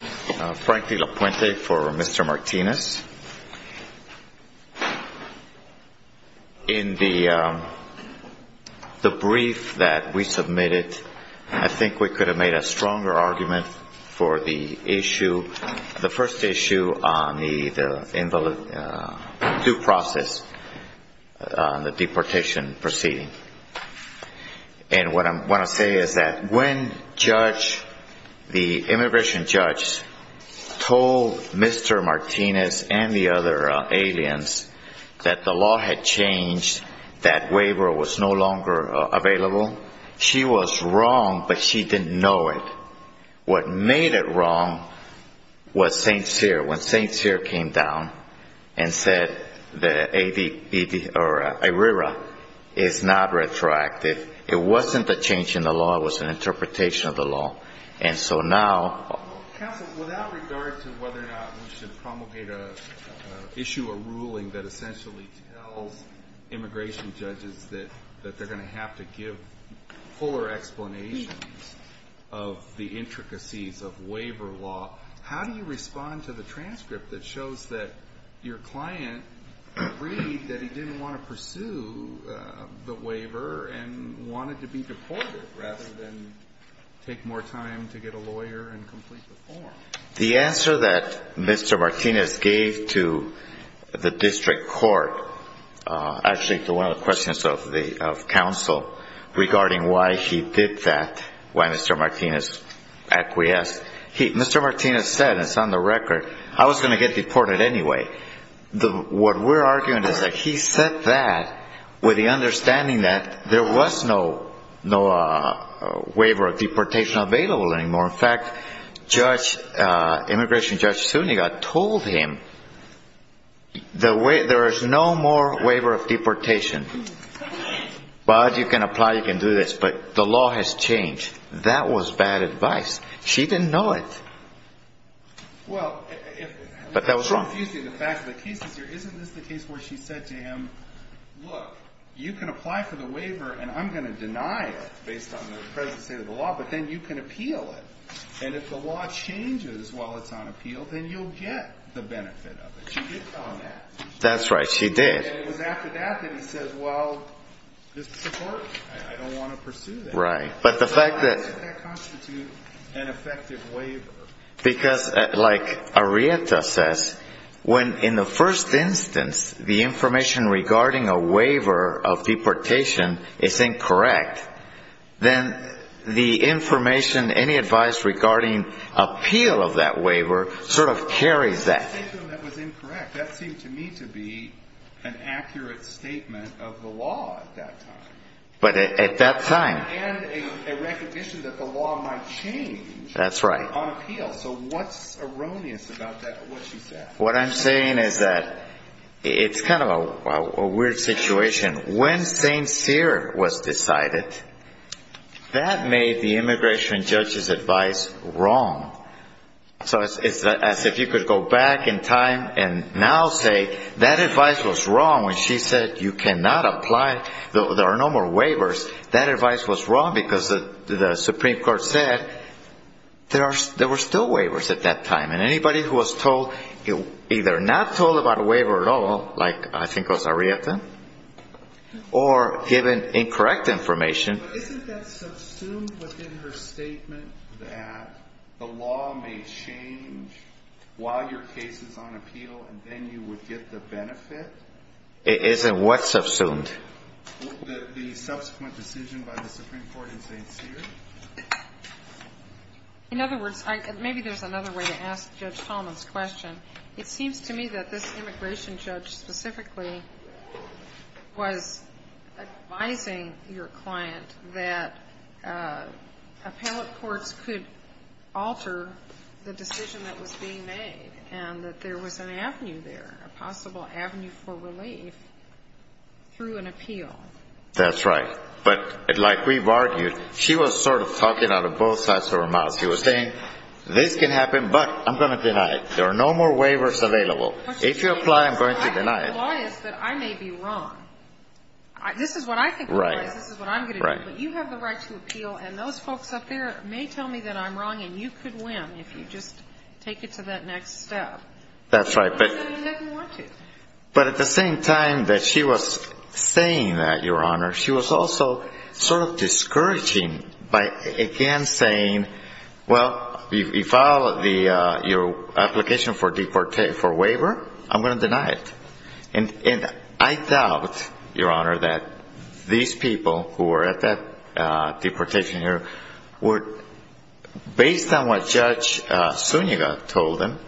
In the brief that we submitted, I think we could have made a stronger argument for the issue, the first issue on the due process, the deportation proceeding. And what I want to say is that when the immigration judge told Mr. Martinez and the other aliens that the law had changed, that waiver was no longer available, she was wrong, but she didn't know it. What made it wrong was St. Cyr. When St. Cyr came down and said that ARERA is not retroactive, it wasn't a change in the law, it was an interpretation of the law. And so now... Judge Goldberg Counsel, without regard to whether or not we should issue a ruling that essentially tells immigration judges that they're going to have to give fuller explanations of the intricacies of waiver law, how do you respond to the transcript that shows that your client agreed that he didn't want to pursue the waiver and wanted to be deported, rather than take more time to get a lawyer and complete the form? Justice Alito The answer that Mr. Martinez gave to the district court, actually to one of the questions of the — of counsel regarding why he did that, why Mr. Martinez acquiesced, he — Mr. Martinez said, and it's on the record, I was going to get deported anyway. The — what we're arguing is that he said that with the understanding that there was no — no waiver of deportation available anymore. In fact, Judge — Immigration Judge Suniga told him the — there is no more waiver of deportation, but you can apply, you can do this, but the law has changed. That was bad advice. She didn't know it. But that was wrong. The fact of the case is, isn't this the case where she said to him, look, you can apply for the waiver and I'm going to deny it based on the present state of the law, but then you can appeal it. And if the law changes while it's on appeal, then you'll get the benefit of it. She did tell him that. That's right. She did. And it was after that that he says, well, this is the court. I don't want to pursue that. Right. But the fact that — How does that constitute an effective waiver? Because, like Arietta says, when in the first instance, the information regarding a waiver of deportation is incorrect, then the information, any advice regarding appeal of that waiver sort of carries that. So that was incorrect. That seemed to me to be an accurate statement of the law at that time. But at that time — And a recognition that the law might change — That's right. On appeal. So what's erroneous about what she said? What I'm saying is that it's kind of a weird situation. When St. Cyr was decided, that made the immigration judge's advice wrong. So it's as if you could go back in time and now say that advice was wrong when she said you cannot apply, there are no more waivers. That advice was wrong because the Supreme Court said there were still waivers at that time. And anybody who was told — either not told about a waiver at all, like I think was Arietta, or given incorrect information — Isn't that subsumed within her statement that the law may change while your case is on appeal and then you would get the benefit? It isn't what's subsumed? The subsequent decision by the Supreme Court in St. Cyr? In other words, maybe there's another way to ask Judge Tolman's question. It seems to me that this immigration judge specifically was advising your client that appellate courts could alter the decision that was being made, and that there was an avenue there, a possible avenue for relief through an appeal. That's right. But like we've argued, she was sort of talking out of both sides of her mouth. She was saying, this can happen, but I'm going to deny it. There are no more waivers available. If you apply, I'm going to deny it. The law is that I may be wrong. This is what I think the law is. This is what I'm going to do. But you have the right to appeal, and those folks up there may tell me that I'm wrong, and you could win if you just take it to that next step. That's right. But at the same time that she was saying that, Your Honor, she was also sort of discouraging by again saying, well, you filed your application for waiver, I'm going to deny it. And I doubt, Your Honor, that these people who were at that deportation here would, based on what Judge Suniga told them,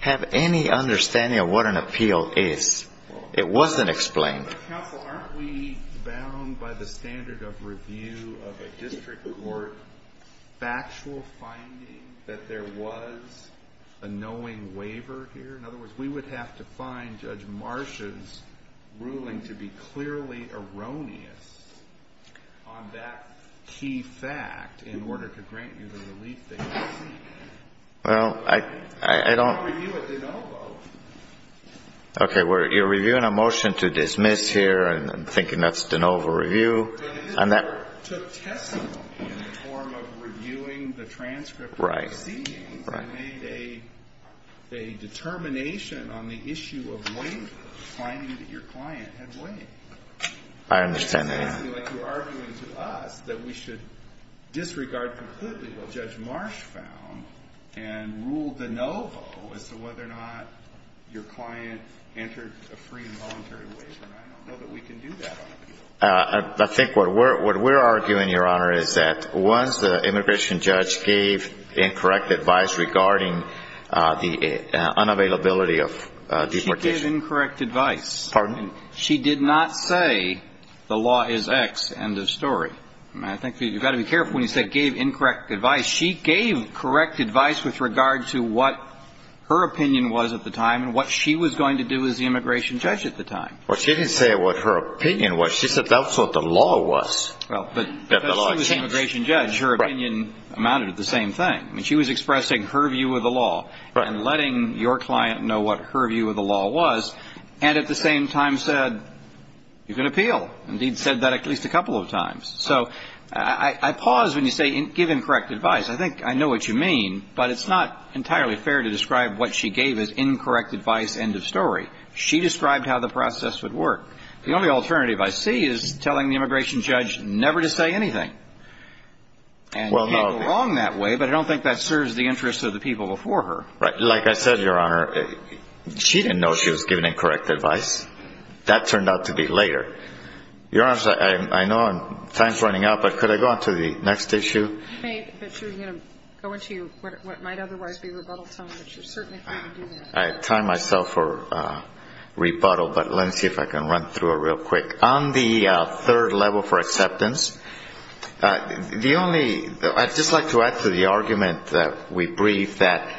have any understanding of what an appeal is. It wasn't explained. But counsel, aren't we bound by the standard of review of a district court factual finding that there was a knowing waiver here? In other words, we would have to find Judge Marsha's ruling to be clearly erroneous on that key fact in order to grant you the relief that you seek. Well, I don't. Okay, you're reviewing a motion to dismiss here, and I'm thinking that's de novo review. But it took testimony in the form of reviewing the transcript of the proceedings and made a determination on the issue of waiver, finding that your client had waived. I understand that, yeah. But you're arguing to us that we should disregard completely what Judge Marsh found and rule de novo as to whether or not your client entered a free and voluntary waiver. And I don't know that we can do that on appeal. I think what we're arguing, Your Honor, is that once the immigration judge gave incorrect advice regarding the unavailability of deportation. She gave incorrect advice. Pardon? She did not say the law is X. End of story. I think you've got to be careful when you say gave incorrect advice. She gave correct advice with regard to what her opinion was at the time and what she was going to do as the immigration judge at the time. Well, she didn't say what her opinion was. She said that's what the law was. Well, because she was an immigration judge, her opinion amounted to the same thing. She was expressing her view of the law and letting your client know what her view of the law was. And at the same time said, you can appeal. Indeed, said that at least a couple of times. So I pause when you say give incorrect advice. I think I know what you mean, but it's not entirely fair to describe what she gave as incorrect advice. End of story. She described how the process would work. The only alternative I see is telling the immigration judge never to say anything. And you can't go wrong that way. But I don't think that serves the interests of the people before her. Like I said, Your Honor, she didn't know she was giving incorrect advice. That turned out to be later. Your Honor, I know time's running out, but could I go on to the next issue? You may, but you're going to go into what might otherwise be rebuttal time, but you're certainly free to do that. I time myself for rebuttal, but let me see if I can run through it real quick. On the third level for acceptance, the only, I'd just like to add to the argument that we briefed that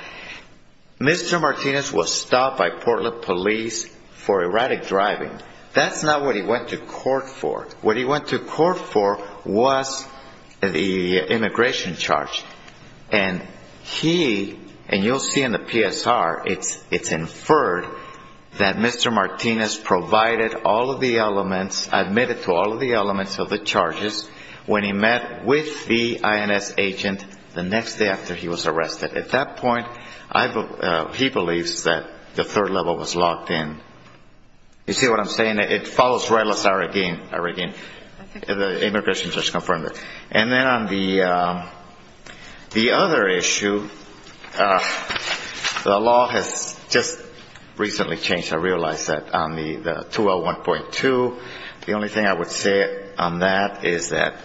Mr. Martinez was stopped by Portland police for erratic driving. That's not what he went to court for. What he went to court for was the immigration charge. And he, and you'll see in the PSR, it's inferred that Mr. Martinez provided all of the elements, admitted to all of the elements of the charges when he met with the INS agent the next day after he was arrested. At that point, he believes that the third level was locked in. You see what I'm saying? It follows right, let's start again. The immigration judge confirmed it. And then on the other issue, the law has just recently changed. I realized that on the 201.2, the only thing I would say on that is that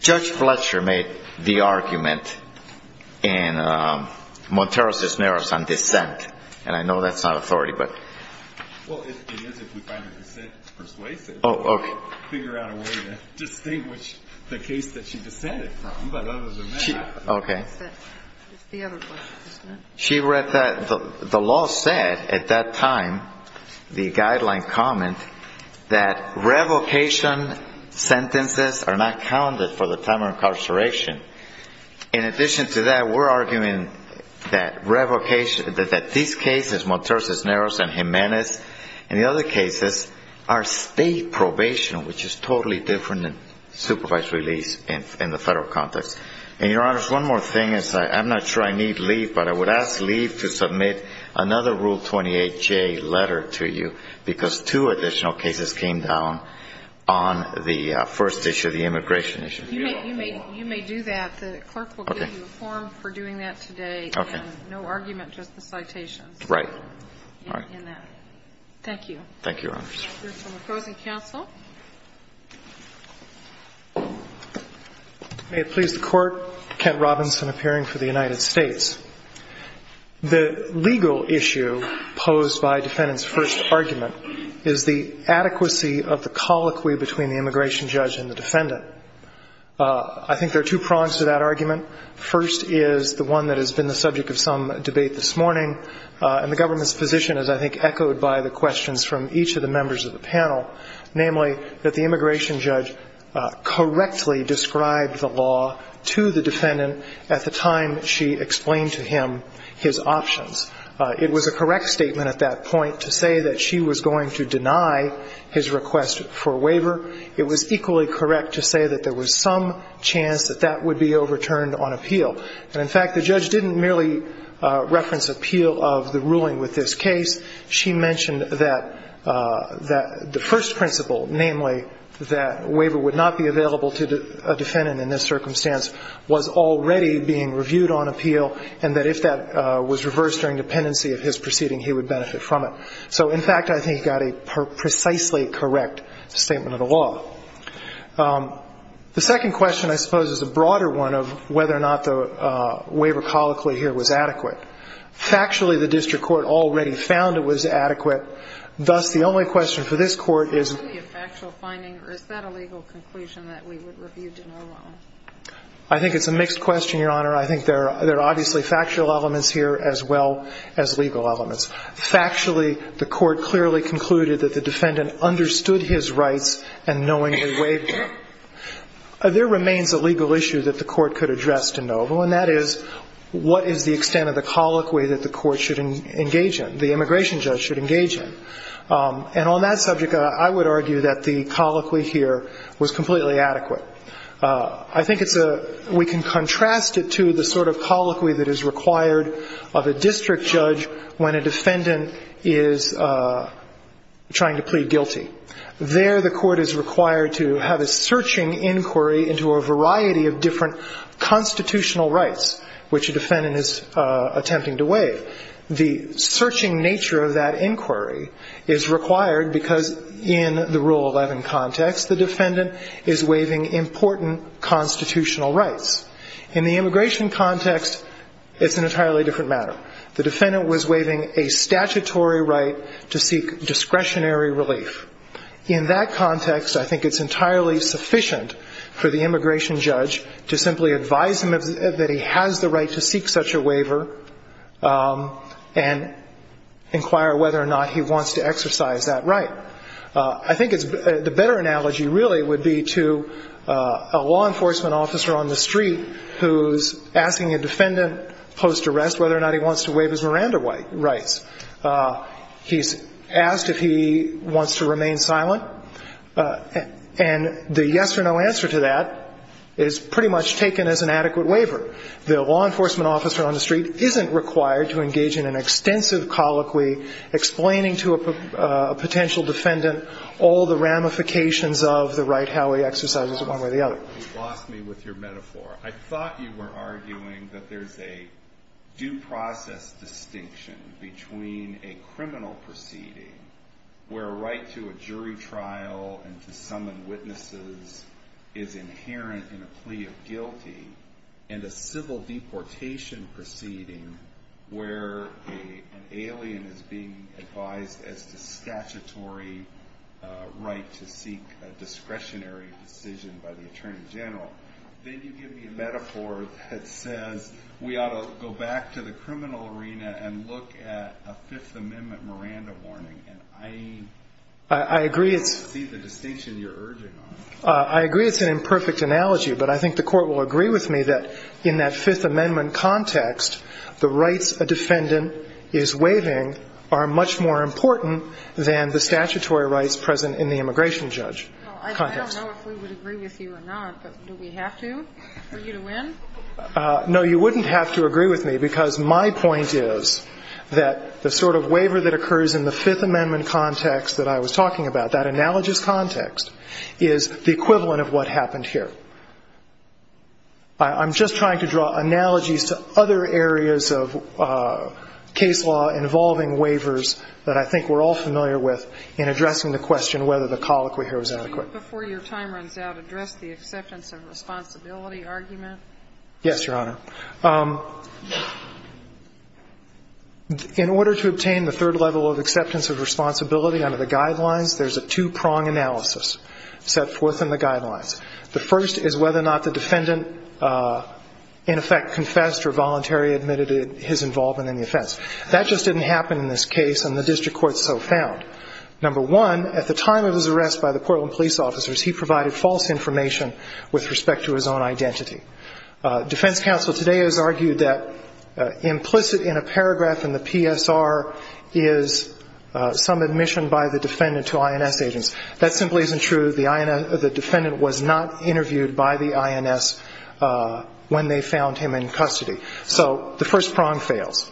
Judge Fletcher made the argument in Montero-Cisneros on dissent. And I know that's not authority, but. Well, it is if we find the dissent persuasive. Oh, okay. Figure out a way to distinguish the case that she dissented from. But other than that. Okay. She read that, the law said at that time, the guideline comment that revocation sentences are not counted for the time of incarceration. In addition to that, we're arguing that revocation that these cases, Montero-Cisneros and Jimenez and the other cases are state probation, which is totally different than supervised release in the federal context. And your honor, one more thing is I'm not sure I need leave, but I would ask leave to submit another rule 28 J letter to you because two additional cases came down on the first issue of the immigration issue. You may, you may, you may do that. The clerk will give you a form for doing that today. Okay. No argument, just the citations. Right. All right. Thank you. Thank you. May it please the court. Kent Robinson appearing for the United States. The legal issue posed by defendant's first argument is the adequacy of the colloquy between the immigration judge and the defendant. I think there are two prongs to that argument. First is the one that has been the subject of some debate this morning. And the government's position is, I think, echoed by the questions from each of the members of the panel, namely that the immigration judge correctly described the law to the defendant at the time she explained to him his options. It was a correct statement at that point to say that she was going to deny his request for waiver. It was equally correct to say that there was some chance that that would be overturned on appeal. And in fact, the judge didn't merely reference appeal of the ruling with this case. She mentioned that that the first principle, namely that waiver would not be available to a defendant in this circumstance, was already being reviewed on appeal, and that if that was reversed during dependency of his proceeding, he would benefit from it. So in fact, I think he got a precisely correct statement of the law. The second question, I suppose, is a broader one of whether or not the waiver colloquy here was adequate. Factually, the district court already found it was adequate. Thus, the only question for this court is. Is that a legal conclusion that we would review de novo? I think it's a mixed question, Your Honor. I think there are obviously factual elements here as well as legal elements. Factually, the court clearly concluded that the defendant understood his rights and knowing the waiver. There remains a legal issue that the court could address de novo, and that is, what is the extent of the colloquy that the court should engage in, the immigration judge should engage in? And on that subject, I would argue that the colloquy here was completely adequate. We can contrast it to the sort of colloquy that is required of a district judge when a defendant is trying to plead guilty. There, the court is required to have a searching inquiry into a variety of different The searching nature of that inquiry is required because in the Rule 11 context, the defendant is waiving important constitutional rights. In the immigration context, it's an entirely different matter. The defendant was waiving a statutory right to seek discretionary relief. In that context, I think it's entirely sufficient for the immigration judge to simply advise him that he has the right to seek such a waiver and inquire whether or not he wants to exercise that right. I think the better analogy really would be to a law enforcement officer on the street who's asking a defendant post-arrest whether or not he wants to waive his Miranda rights. He's asked if he wants to remain silent, and the yes or no answer to that is pretty much taken as an adequate waiver. The law enforcement officer on the street isn't required to engage in an extensive colloquy explaining to a potential defendant all the ramifications of the right-how he exercises it one way or the other. You lost me with your metaphor. I thought you were arguing that there's a due process distinction between a criminal proceeding where a right to a jury trial and to summon witnesses is inherent in a plea of guilty and a civil deportation proceeding where an alien is being advised as to statutory right to seek a discretionary decision by the attorney general. Then you give me a metaphor that says we ought to go back to the criminal arena and look at a Fifth Amendment Miranda warning, and I don't see the distinction you're urging on. I agree it's an imperfect analogy, but I think the Court will agree with me that in that Fifth Amendment context, the rights a defendant is waiving are much more important than the statutory rights present in the immigration judge context. I don't know if we would agree with you or not, but do we have to for you to win? No, you wouldn't have to agree with me, because my point is that the sort of waiver that occurs in the Fifth Amendment context that I was talking about, that analogous context, is the equivalent of what happened here. I'm just trying to draw analogies to other areas of case law involving waivers that I think we're all familiar with in addressing the question whether the colloquy here was adequate. Before your time runs out, address the acceptance of responsibility argument. Yes, Your Honor. In order to obtain the third level of acceptance of responsibility under the guidelines, there's a two-prong analysis set forth in the guidelines. The first is whether or not the defendant in effect confessed or voluntarily admitted his involvement in the offense. That just didn't happen in this case, and the district court so found. Number one, at the time of his arrest by the Portland police officers, he provided false information with respect to his own identity. Defense counsel today has argued that implicit in a paragraph in the PSR is some admission by the defendant to INS agents. That simply isn't true. The defendant was not interviewed by the INS when they found him in custody. So the first prong fails.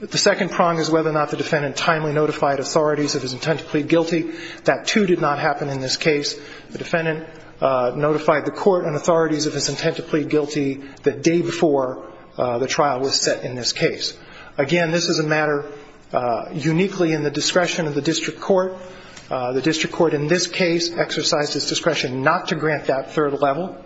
The second prong is whether or not the defendant timely notified authorities of his intent to plead guilty. That, too, did not happen in this case. The defendant notified the court and authorities of his intent to plead guilty the day before the trial was set in this case. Again, this is a matter uniquely in the discretion of the district court. The district court in this case exercised its discretion not to grant that third level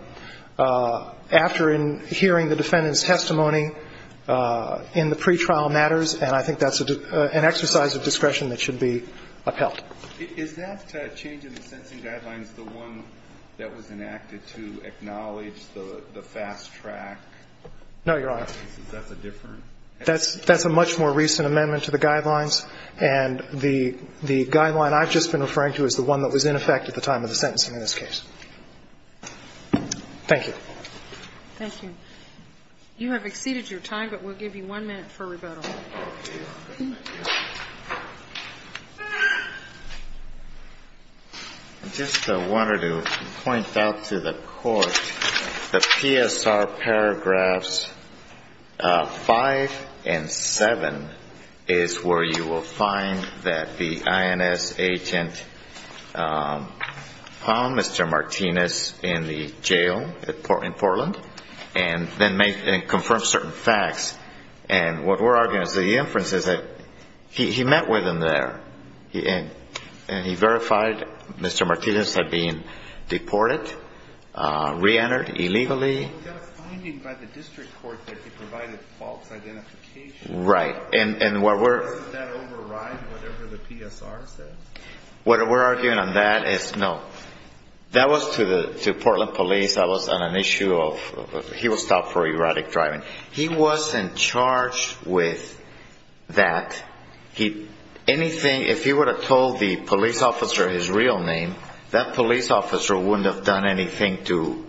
after hearing the defendant's testimony in the pretrial matters, and I think that's an exercise of discretion that should be upheld. Is that change in the sentencing guidelines the one that was enacted to acknowledge the fast track? No, Your Honor. That's a different? That's a much more recent amendment to the guidelines, and the guideline I've just been referring to is the one that was in effect at the time of the sentencing in this case. Thank you. Thank you. You have exceeded your time, but we'll give you one minute for rebuttal. I just wanted to point out to the court the PSR paragraphs five and seven is where you will find that the INS agent found Mr. Martinez in the jail in Portland, and then confirmed certain facts, and what we're arguing is the inference is that he met with him there, and he verified Mr. Martinez had been deported, reentered illegally. But we've got a finding by the district court that he provided false identification. Right, and what we're... Doesn't that override whatever the PSR says? What we're arguing on that is no. That was to Portland Police. That was on an issue of... He was stopped for erratic driving. He was in charge with that. If he would have told the police officer his real name, that police officer wouldn't have done anything to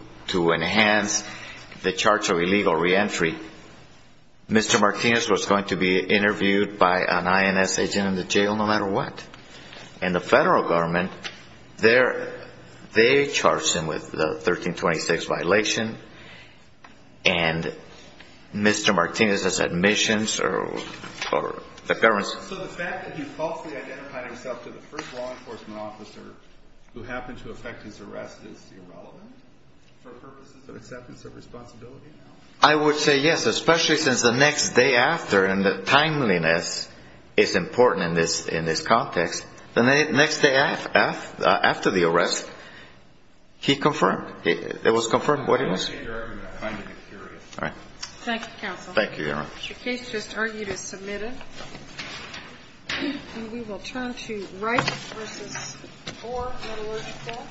enhance the charge of illegal reentry. Mr. Martinez was going to be interviewed by an INS agent in the jail no matter what. And the federal government, they charged him with the 1326 violation, and Mr. Martinez's admissions, or the government's... So the fact that he falsely identified himself to the first law enforcement officer who happened to affect his arrest is irrelevant for purposes of acceptance of responsibility now? I would say yes, especially since the next day after, and the timeliness is important in this context. The next day after the arrest, he confirmed. It was confirmed. What is it? All right. Thank you, counsel. Thank you, Your Honor. Your case just argued is submitted. And we will turn to Rice v. Orr, Metalurgical.